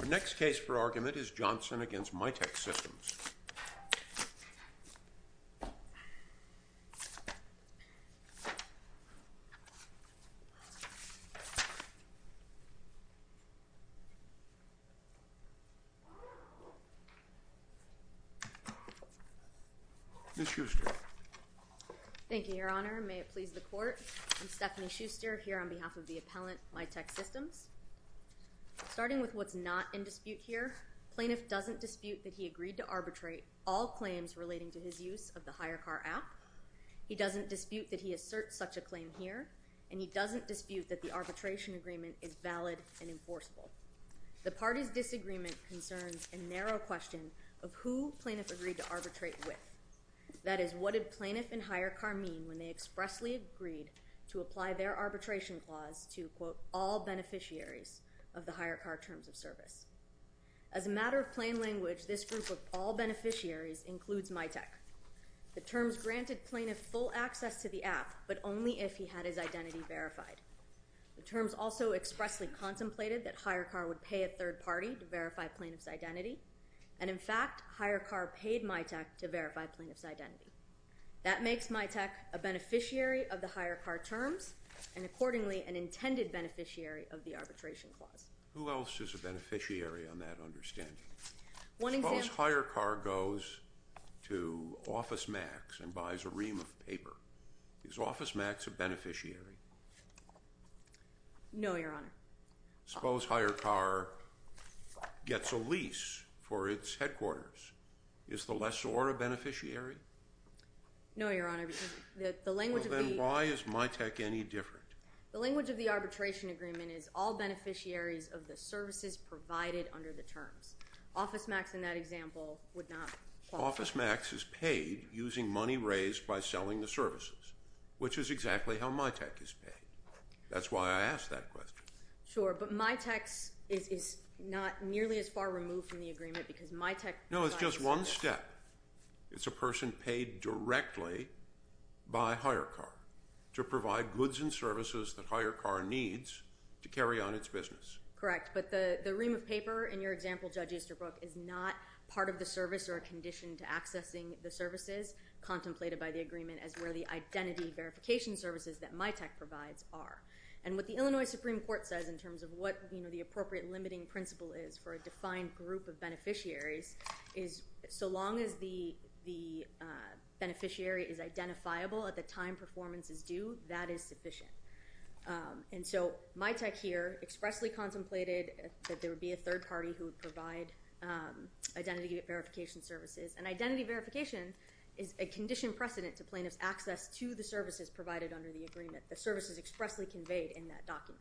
Our next case for argument is Johnson v. Mitek Systems. Ms. Schuster. Thank you, Your Honor. May it please the Court. I'm Stephanie Schuster here on behalf of the appellant, Mitek Systems. Starting with what's not in dispute here, plaintiff doesn't dispute that he agreed to arbitrate all claims relating to his use of the HireCar app. He doesn't dispute that he asserts such a claim here, and he doesn't dispute that the arbitration agreement is valid and enforceable. The party's disagreement concerns a narrow question of who plaintiff agreed to arbitrate with. That is, what did plaintiff and HireCar mean when they expressly agreed to apply their arbitration clause to, quote, all beneficiaries of the HireCar terms of service? As a matter of plain language, this group of all beneficiaries includes Mitek. The terms granted plaintiff full access to the app, but only if he had his identity verified. The terms also expressly contemplated that HireCar would pay a third party to verify plaintiff's identity, and in fact HireCar paid Mitek to verify plaintiff's identity. That makes Mitek a beneficiary of the HireCar terms and accordingly an intended beneficiary of the arbitration clause. Who else is a beneficiary on that understanding? Suppose HireCar goes to OfficeMax and buys a ream of paper. Is OfficeMax a beneficiary? No, Your Honor. Suppose HireCar gets a lease for its headquarters. Is the lessor a beneficiary? No, Your Honor, because the language of the Well, then why is Mitek any different? The language of the arbitration agreement is all beneficiaries of the services provided under the terms. OfficeMax, in that example, would not qualify. OfficeMax is paid using money raised by selling the services, which is exactly how Mitek is paid. That's why I asked that question. Sure, but Mitek is not nearly as far removed from the agreement because Mitek provides services. No, it's just one step. It's a person paid directly by HireCar to provide goods and services that HireCar needs to carry on its business. Correct, but the ream of paper in your example, Judge Easterbrook, is not part of the service or a condition to accessing the services contemplated by the agreement as where the identity verification services that Mitek provides are. And what the Illinois Supreme Court says in terms of what the appropriate limiting principle is for a defined group of beneficiaries is so long as the beneficiary is identifiable at the time performance is due, that is sufficient. And so Mitek here expressly contemplated that there would be a third party who would provide identity verification services. And identity verification is a condition precedent to plaintiff's access to the services provided under the agreement, the services expressly conveyed in that document.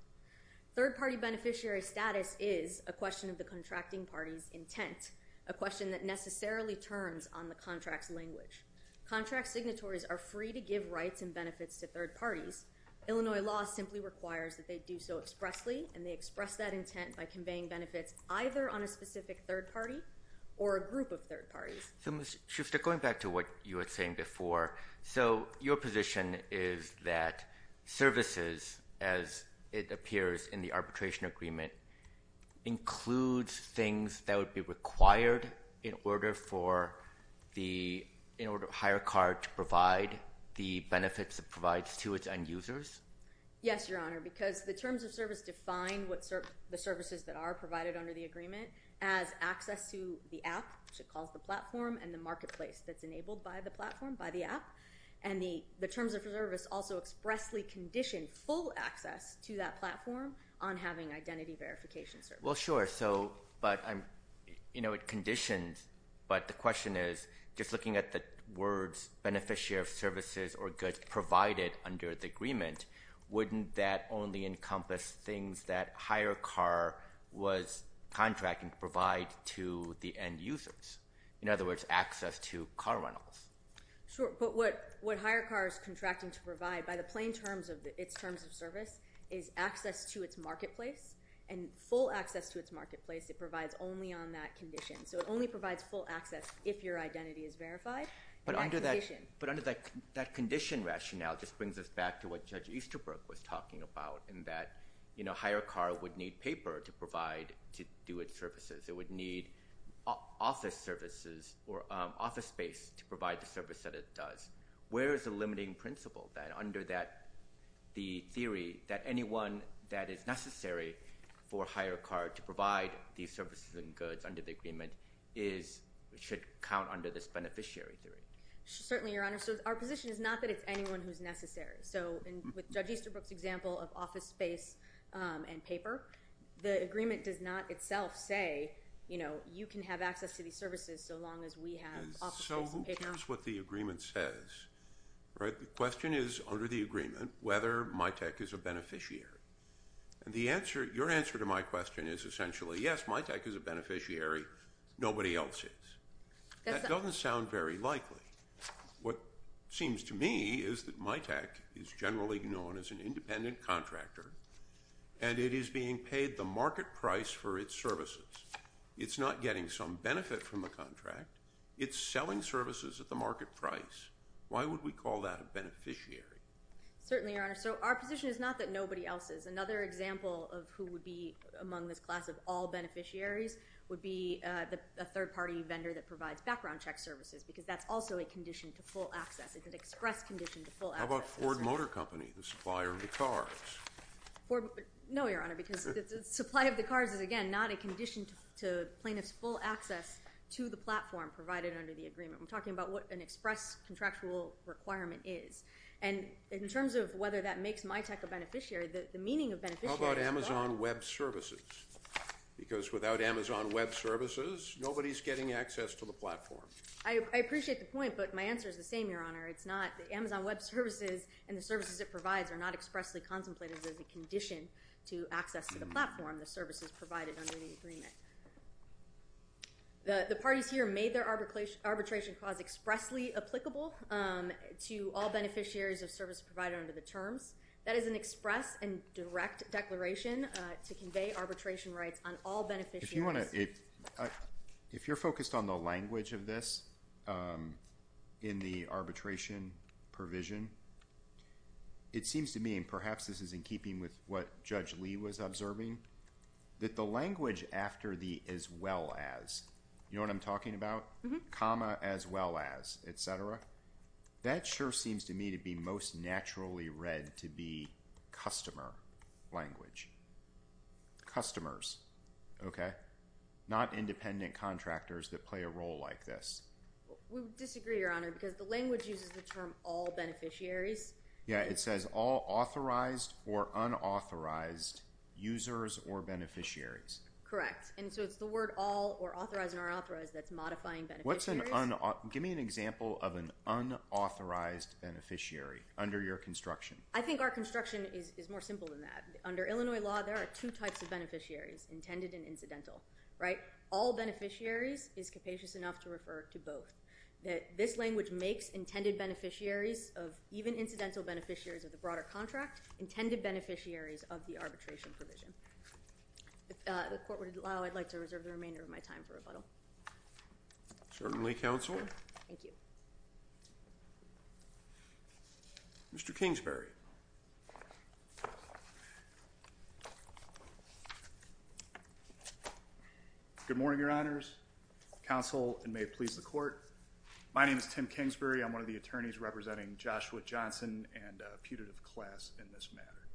Third party beneficiary status is a question of the contracting party's intent, a question that necessarily turns on the contract's language. Contract signatories are free to give rights and benefits to third parties. Illinois law simply requires that they do so expressly, and they express that intent by conveying benefits either on a specific third party or a group of third parties. So, Ms. Schuster, going back to what you were saying before, so your position is that services, as it appears in the arbitration agreement, includes things that would be required in order for the higher card to provide the benefits it provides to its end users? Yes, Your Honor, because the terms of service define the services that are provided under the agreement as access to the app, which it calls the platform, and the marketplace that's enabled by the platform, by the app. And the terms of service also expressly condition full access to that platform on having identity verification services. Well, sure, so, but, you know, it conditions, but the question is, just looking at the words beneficiary of services or goods provided under the agreement, wouldn't that only encompass things that higher car was contracting to provide to the end users? In other words, access to car rentals. Sure, but what higher car is contracting to provide, by the plain terms of its terms of service, is access to its marketplace, and full access to its marketplace it provides only on that condition. So it only provides full access if your identity is verified. But under that condition rationale just brings us back to what Judge Easterbrook was talking about, in that, you know, higher car would need paper to provide, to do its services. It would need office services or office space to provide the service that it does. Where is the limiting principle that under that, the theory that anyone that is necessary for higher car to provide these services and goods under the agreement should count under this beneficiary theory? Certainly, Your Honor. So our position is not that it's anyone who's necessary. So with Judge Easterbrook's example of office space and paper, the agreement does not itself say, you know, you can have access to these services so long as we have office space and paper. So here's what the agreement says, right? The question is, under the agreement, whether MITAC is a beneficiary. Your answer to my question is essentially, yes, MITAC is a beneficiary, nobody else is. That doesn't sound very likely. What seems to me is that MITAC is generally known as an independent contractor and it is being paid the market price for its services. It's not getting some benefit from the contract. It's selling services at the market price. Certainly, Your Honor. So our position is not that nobody else is. Another example of who would be among this class of all beneficiaries would be a third-party vendor that provides background check services because that's also a condition to full access. It's an express condition to full access. How about Ford Motor Company, the supplier of the cars? No, Your Honor, because the supply of the cars is, again, not a condition to plaintiffs' full access to the platform provided under the agreement. We're talking about what an express contractual requirement is. And in terms of whether that makes MITAC a beneficiary, the meaning of beneficiary is both. How about Amazon Web Services? Because without Amazon Web Services, nobody is getting access to the platform. I appreciate the point, but my answer is the same, Your Honor. It's not. The Amazon Web Services and the services it provides are not expressly contemplated as a condition to access to the platform, the services provided under the agreement. The parties here made their arbitration clause expressly applicable to all beneficiaries of services provided under the terms. That is an express and direct declaration to convey arbitration rights on all beneficiaries. If you're focused on the language of this in the arbitration provision, it seems to me, and perhaps this is in keeping with what Judge Lee was observing, that the language after the as well as, you know what I'm talking about? Mm-hmm. Comma, as well as, et cetera. That sure seems to me to be most naturally read to be customer language. Customers, okay? Not independent contractors that play a role like this. We disagree, Your Honor, because the language uses the term all beneficiaries. Yeah, it says all authorized or unauthorized users or beneficiaries. Correct, and so it's the word all or authorized or unauthorized that's modifying beneficiaries. Give me an example of an unauthorized beneficiary under your construction. I think our construction is more simple than that. Under Illinois law, there are two types of beneficiaries, intended and incidental, right? All beneficiaries is capacious enough to refer to both. This language makes intended beneficiaries of even incidental beneficiaries of the broader contract intended beneficiaries of the arbitration provision. If the Court would allow, I'd like to reserve the remainder of my time for rebuttal. Certainly, Counsel. Thank you. Mr. Kingsbury. Good morning, Your Honors. Counsel, and may it please the Court. My name is Tim Kingsbury. I'm one of the attorneys representing Joshua Johnson and a putative class in this matter.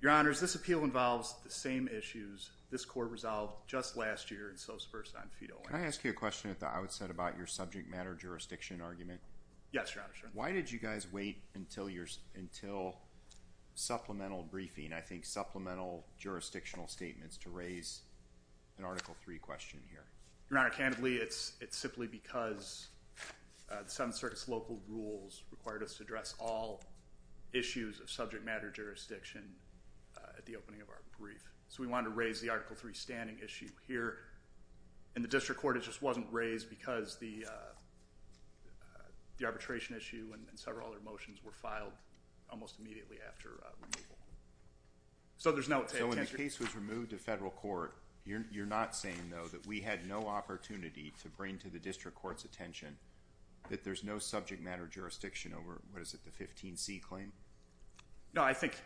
Your Honors, this appeal involves the same issues this Court resolved just last year in Sosa versus Onfita. Can I ask you a question at the outset about your subject matter jurisdiction argument? Yes, Your Honor. Why did you guys wait until supplemental briefing, I think supplemental jurisdictional statements, to raise an Article III question here? Your Honor, candidly, it's simply because the Seventh Circuit's local rules required us to address all issues of subject matter jurisdiction at the opening of our brief. So we wanted to raise the Article III standing issue here. And the District Court, it just wasn't raised because the arbitration issue and several other motions were filed almost immediately after removal. So there's no... So when the case was removed to federal court, you're not saying, though, that we had no opportunity to bring to the District Court's attention that there's no subject matter jurisdiction over, what is it, the 15C claim? No, I think,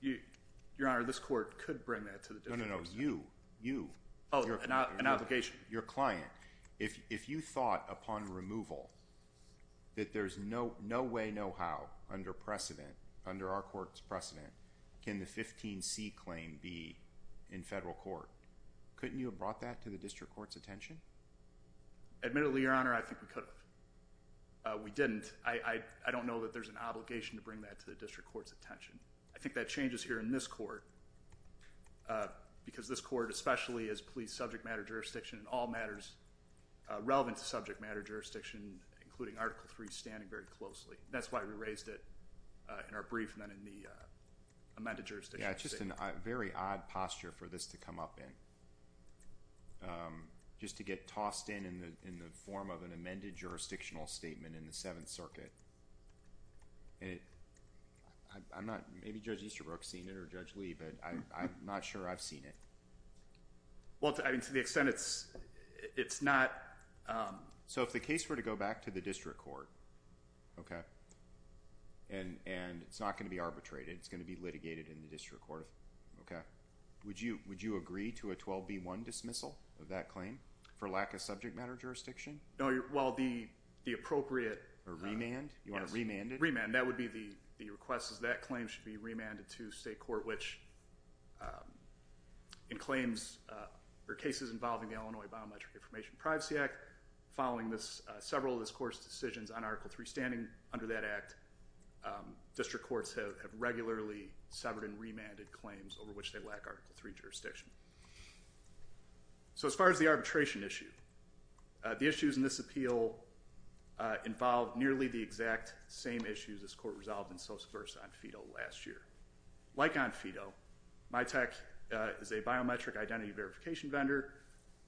Your Honor, this Court could bring that to the District Court. No, no, no. You, you. Oh, an obligation. Your client. If you thought, upon removal, that there's no way, no how, under precedent, under our court's precedent, can the 15C claim be in federal court, couldn't you have brought that to the District Court's attention? Admittedly, Your Honor, I think we could have. We didn't. I think that changes here in this court because this court, especially as police subject matter jurisdiction, all matters relevant to subject matter jurisdiction, including Article III, standing very closely. That's why we raised it in our brief and then in the amended jurisdiction. Yeah, it's just a very odd posture for this to come up in, just to get tossed in in the form of an amended jurisdictional statement in the Seventh Circuit. I'm not, maybe Judge Easterbrook's seen it or Judge Lee, but I'm not sure I've seen it. Well, to the extent it's, it's not. So if the case were to go back to the District Court, okay, and it's not going to be arbitrated, it's going to be litigated in the District Court, okay, would you agree to a 12B1 dismissal of that claim for lack of subject matter jurisdiction? No, well, the appropriate. A remand? You want to remand it? Remand, that would be the request is that claim should be remanded to state court, which in claims or cases involving the Illinois Biometric Information Privacy Act, following several of this court's decisions on Article III, standing under that act, District Courts have regularly severed and remanded claims over which they lack Article III jurisdiction. So as far as the arbitration issue, the issues in this appeal involve nearly the exact same issues this court resolved in Sosa-Versa on FIDO last year. Like on FIDO, MiTech is a biometric identity verification vendor,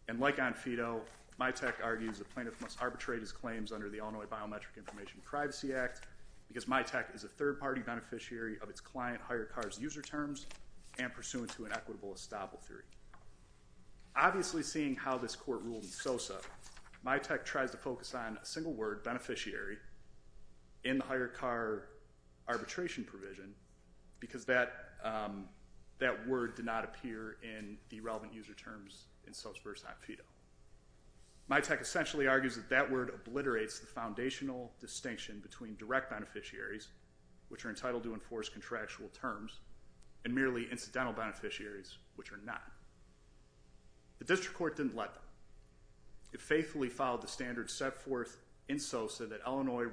and like on FIDO, MiTech argues the plaintiff must arbitrate his claims under the Illinois Biometric Information Privacy Act because MiTech is a third-party beneficiary of its client hired car's user terms and pursuant to an equitable estoppel theory. Obviously, seeing how this court ruled in Sosa, MiTech tries to focus on a single word, beneficiary, in the hired car arbitration provision because that word did not appear in the relevant user terms in Sosa-Versa on FIDO. MiTech essentially argues that that word obliterates the foundational distinction between direct beneficiaries, which are entitled to enforce contractual terms, and merely incidental beneficiaries, which are not. The district court didn't let that. It faithfully followed the standards set forth in Sosa that Illinois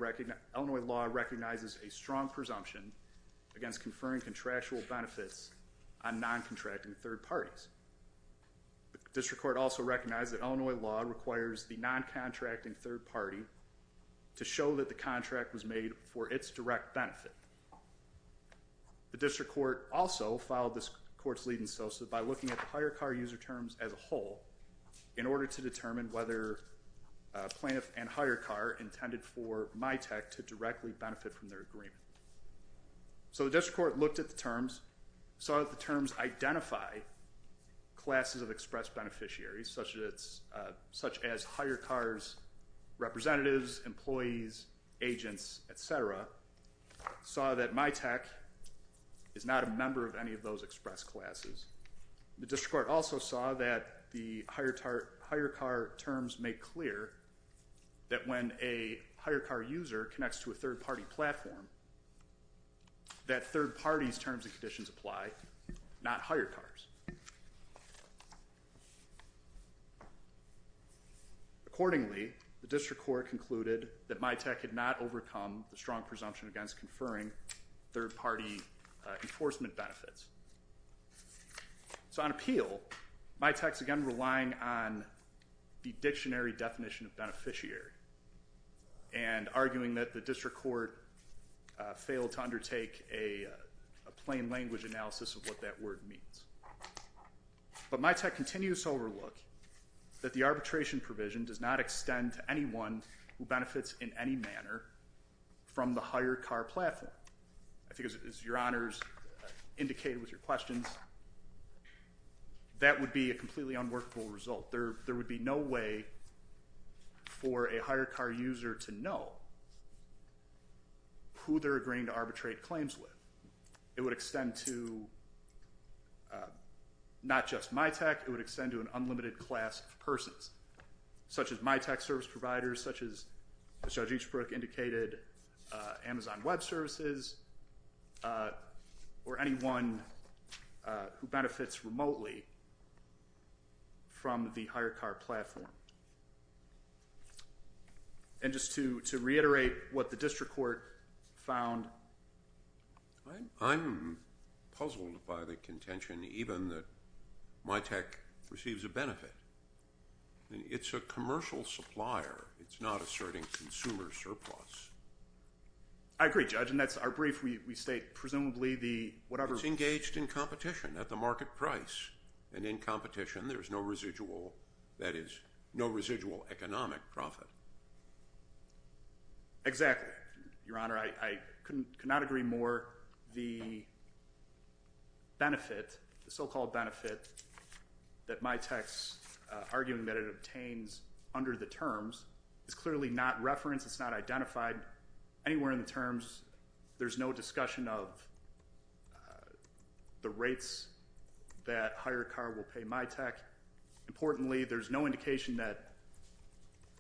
law recognizes a strong presumption against conferring contractual benefits on non-contracting third parties. The district court also recognized that Illinois law requires the non-contracting third party to show that the contract was made for its direct benefit. The district court also followed this court's lead in Sosa by looking at the hired car user terms as a whole in order to determine whether plaintiff and hired car intended for MiTech to directly benefit from their agreement. So the district court looked at the terms, saw that the terms identify classes of express beneficiaries such as hired car's representatives, employees, agents, et cetera. Saw that MiTech is not a member of any of those express classes. The district court also saw that the hired car terms make clear that when a hired car user connects to a third party platform, that third party's terms and conditions apply, not hired car's. Accordingly, the district court concluded that MiTech had not overcome the strong presumption against conferring third party enforcement benefits. So on appeal, MiTech's again relying on the dictionary definition of beneficiary and arguing that the district court failed to undertake a plain language analysis of what that word means. But MiTech continues to overlook that the arbitration provision does not extend to anyone who benefits in any manner from the hired car platform. I think as your honors indicated with your questions, that would be a completely unworkable result. There would be no way for a hired car user to know who they're agreeing to arbitrate claims with. It would extend to not just MiTech, it would extend to an unlimited class of persons, such as MiTech service providers, such as Judge Eachbrook indicated Amazon Web Services, or anyone who benefits remotely from the hired car platform. And just to reiterate what the district court found. I'm puzzled by the contention even that MiTech receives a benefit. It's a commercial supplier. It's not asserting consumer surplus. I agree, Judge, and that's our brief. We state presumably the whatever. It's engaged in competition at the market price. And in competition, there's no residual, that is, no residual economic profit. Exactly, your honor. I could not agree more. The benefit, the so-called benefit that MiTech's arguing that it obtains under the terms is clearly not referenced. It's not identified anywhere in the terms. There's no discussion of the rates that hired car will pay MiTech. Importantly, there's no indication that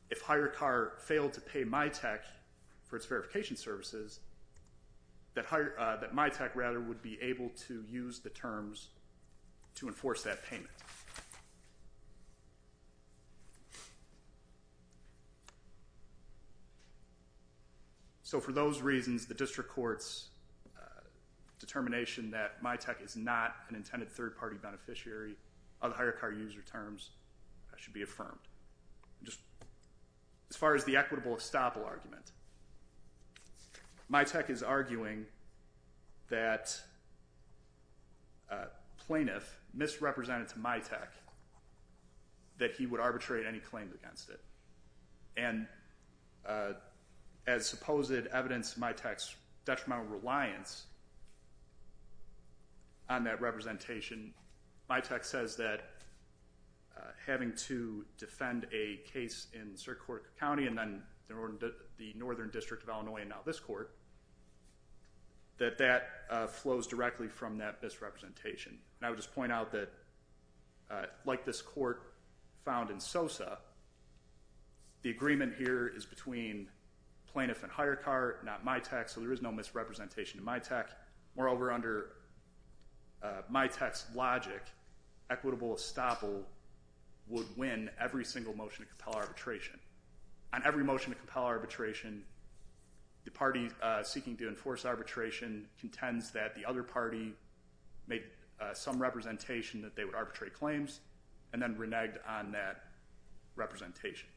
if hired car failed to pay MiTech for its verification services, that MiTech rather would be able to use the terms to enforce that payment. So for those reasons, the district court's determination that MiTech is not an intended third-party beneficiary of hired car user terms should be affirmed. As far as the equitable estoppel argument, MiTech is arguing that a plaintiff misrepresented to MiTech that he would arbitrate any claim against it. And as supposed evidence of MiTech's detrimental reliance on that representation, MiTech says that having to defend a case in Syracuse County and then the Northern District of Illinois and now this court, that that flows directly from that misrepresentation. And I would just point out that like this court found in SOSA, the agreement here is between plaintiff and hired car, not MiTech. So there is no misrepresentation to MiTech. Moreover, under MiTech's logic, equitable estoppel would win every single motion to compel arbitration. On every motion to compel arbitration, the party seeking to enforce arbitration contends that the other party made some representation that they would arbitrate claims and then reneged on that representation.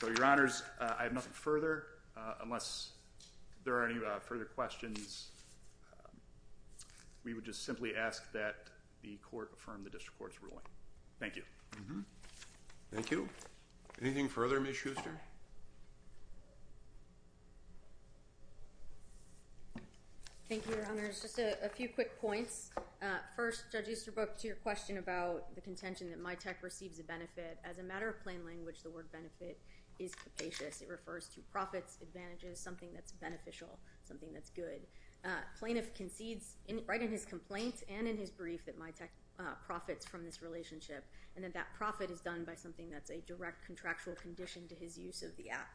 So your honors, I have nothing further. Unless there are any further questions, we would just simply ask that the court affirm the district court's ruling. Thank you. Thank you. Anything further, Ms. Schuster? Thank you, your honors. Just a few quick points. First, Judge Easterbrook, to your question about the contention that MiTech receives a benefit, as a matter of plain language, the word benefit is capacious. It refers to profits, advantages, something that's beneficial, something that's good. Plaintiff concedes right in his complaint and in his brief that MiTech profits from this relationship and that that profit is done by something that's a direct contractual condition to his use of the app.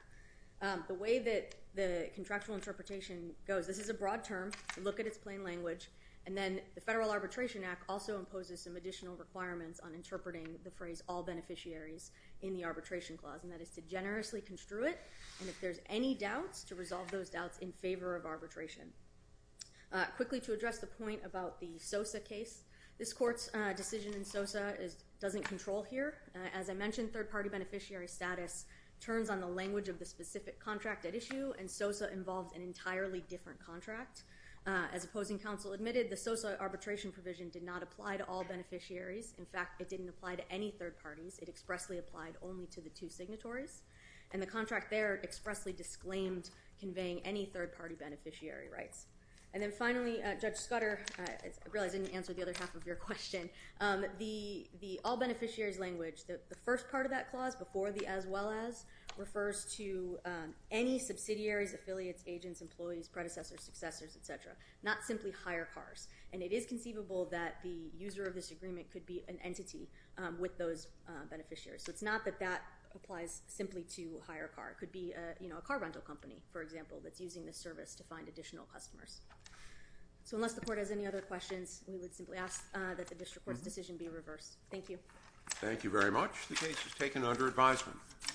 The way that the contractual interpretation goes, this is a broad term. Look at its plain language. And then the Federal Arbitration Act also imposes some additional requirements on interpreting the phrase all beneficiaries in the arbitration clause. And that is to generously construe it. And if there's any doubts, to resolve those doubts in favor of arbitration. Quickly, to address the point about the SOSA case, this court's decision in SOSA doesn't control here. As I mentioned, third-party beneficiary status turns on the language of the specific contract at issue, and SOSA involves an entirely different contract. As opposing counsel admitted, the SOSA arbitration provision did not apply to all beneficiaries. In fact, it didn't apply to any third parties. It expressly applied only to the two signatories. And the contract there expressly disclaimed conveying any third-party beneficiary rights. And then finally, Judge Scudder, I realize I didn't answer the other half of your question. The all beneficiaries language, the first part of that clause before the as well as, refers to any subsidiaries, affiliates, agents, employees, predecessors, successors, et cetera, not simply hire cars. And it is conceivable that the user of this agreement could be an entity with those beneficiaries. So it's not that that applies simply to hire a car. It could be a car rental company, for example, that's using this service to find additional customers. So unless the court has any other questions, we would simply ask that the district court's decision be reversed. Thank you. Thank you very much. The case is taken under advisement.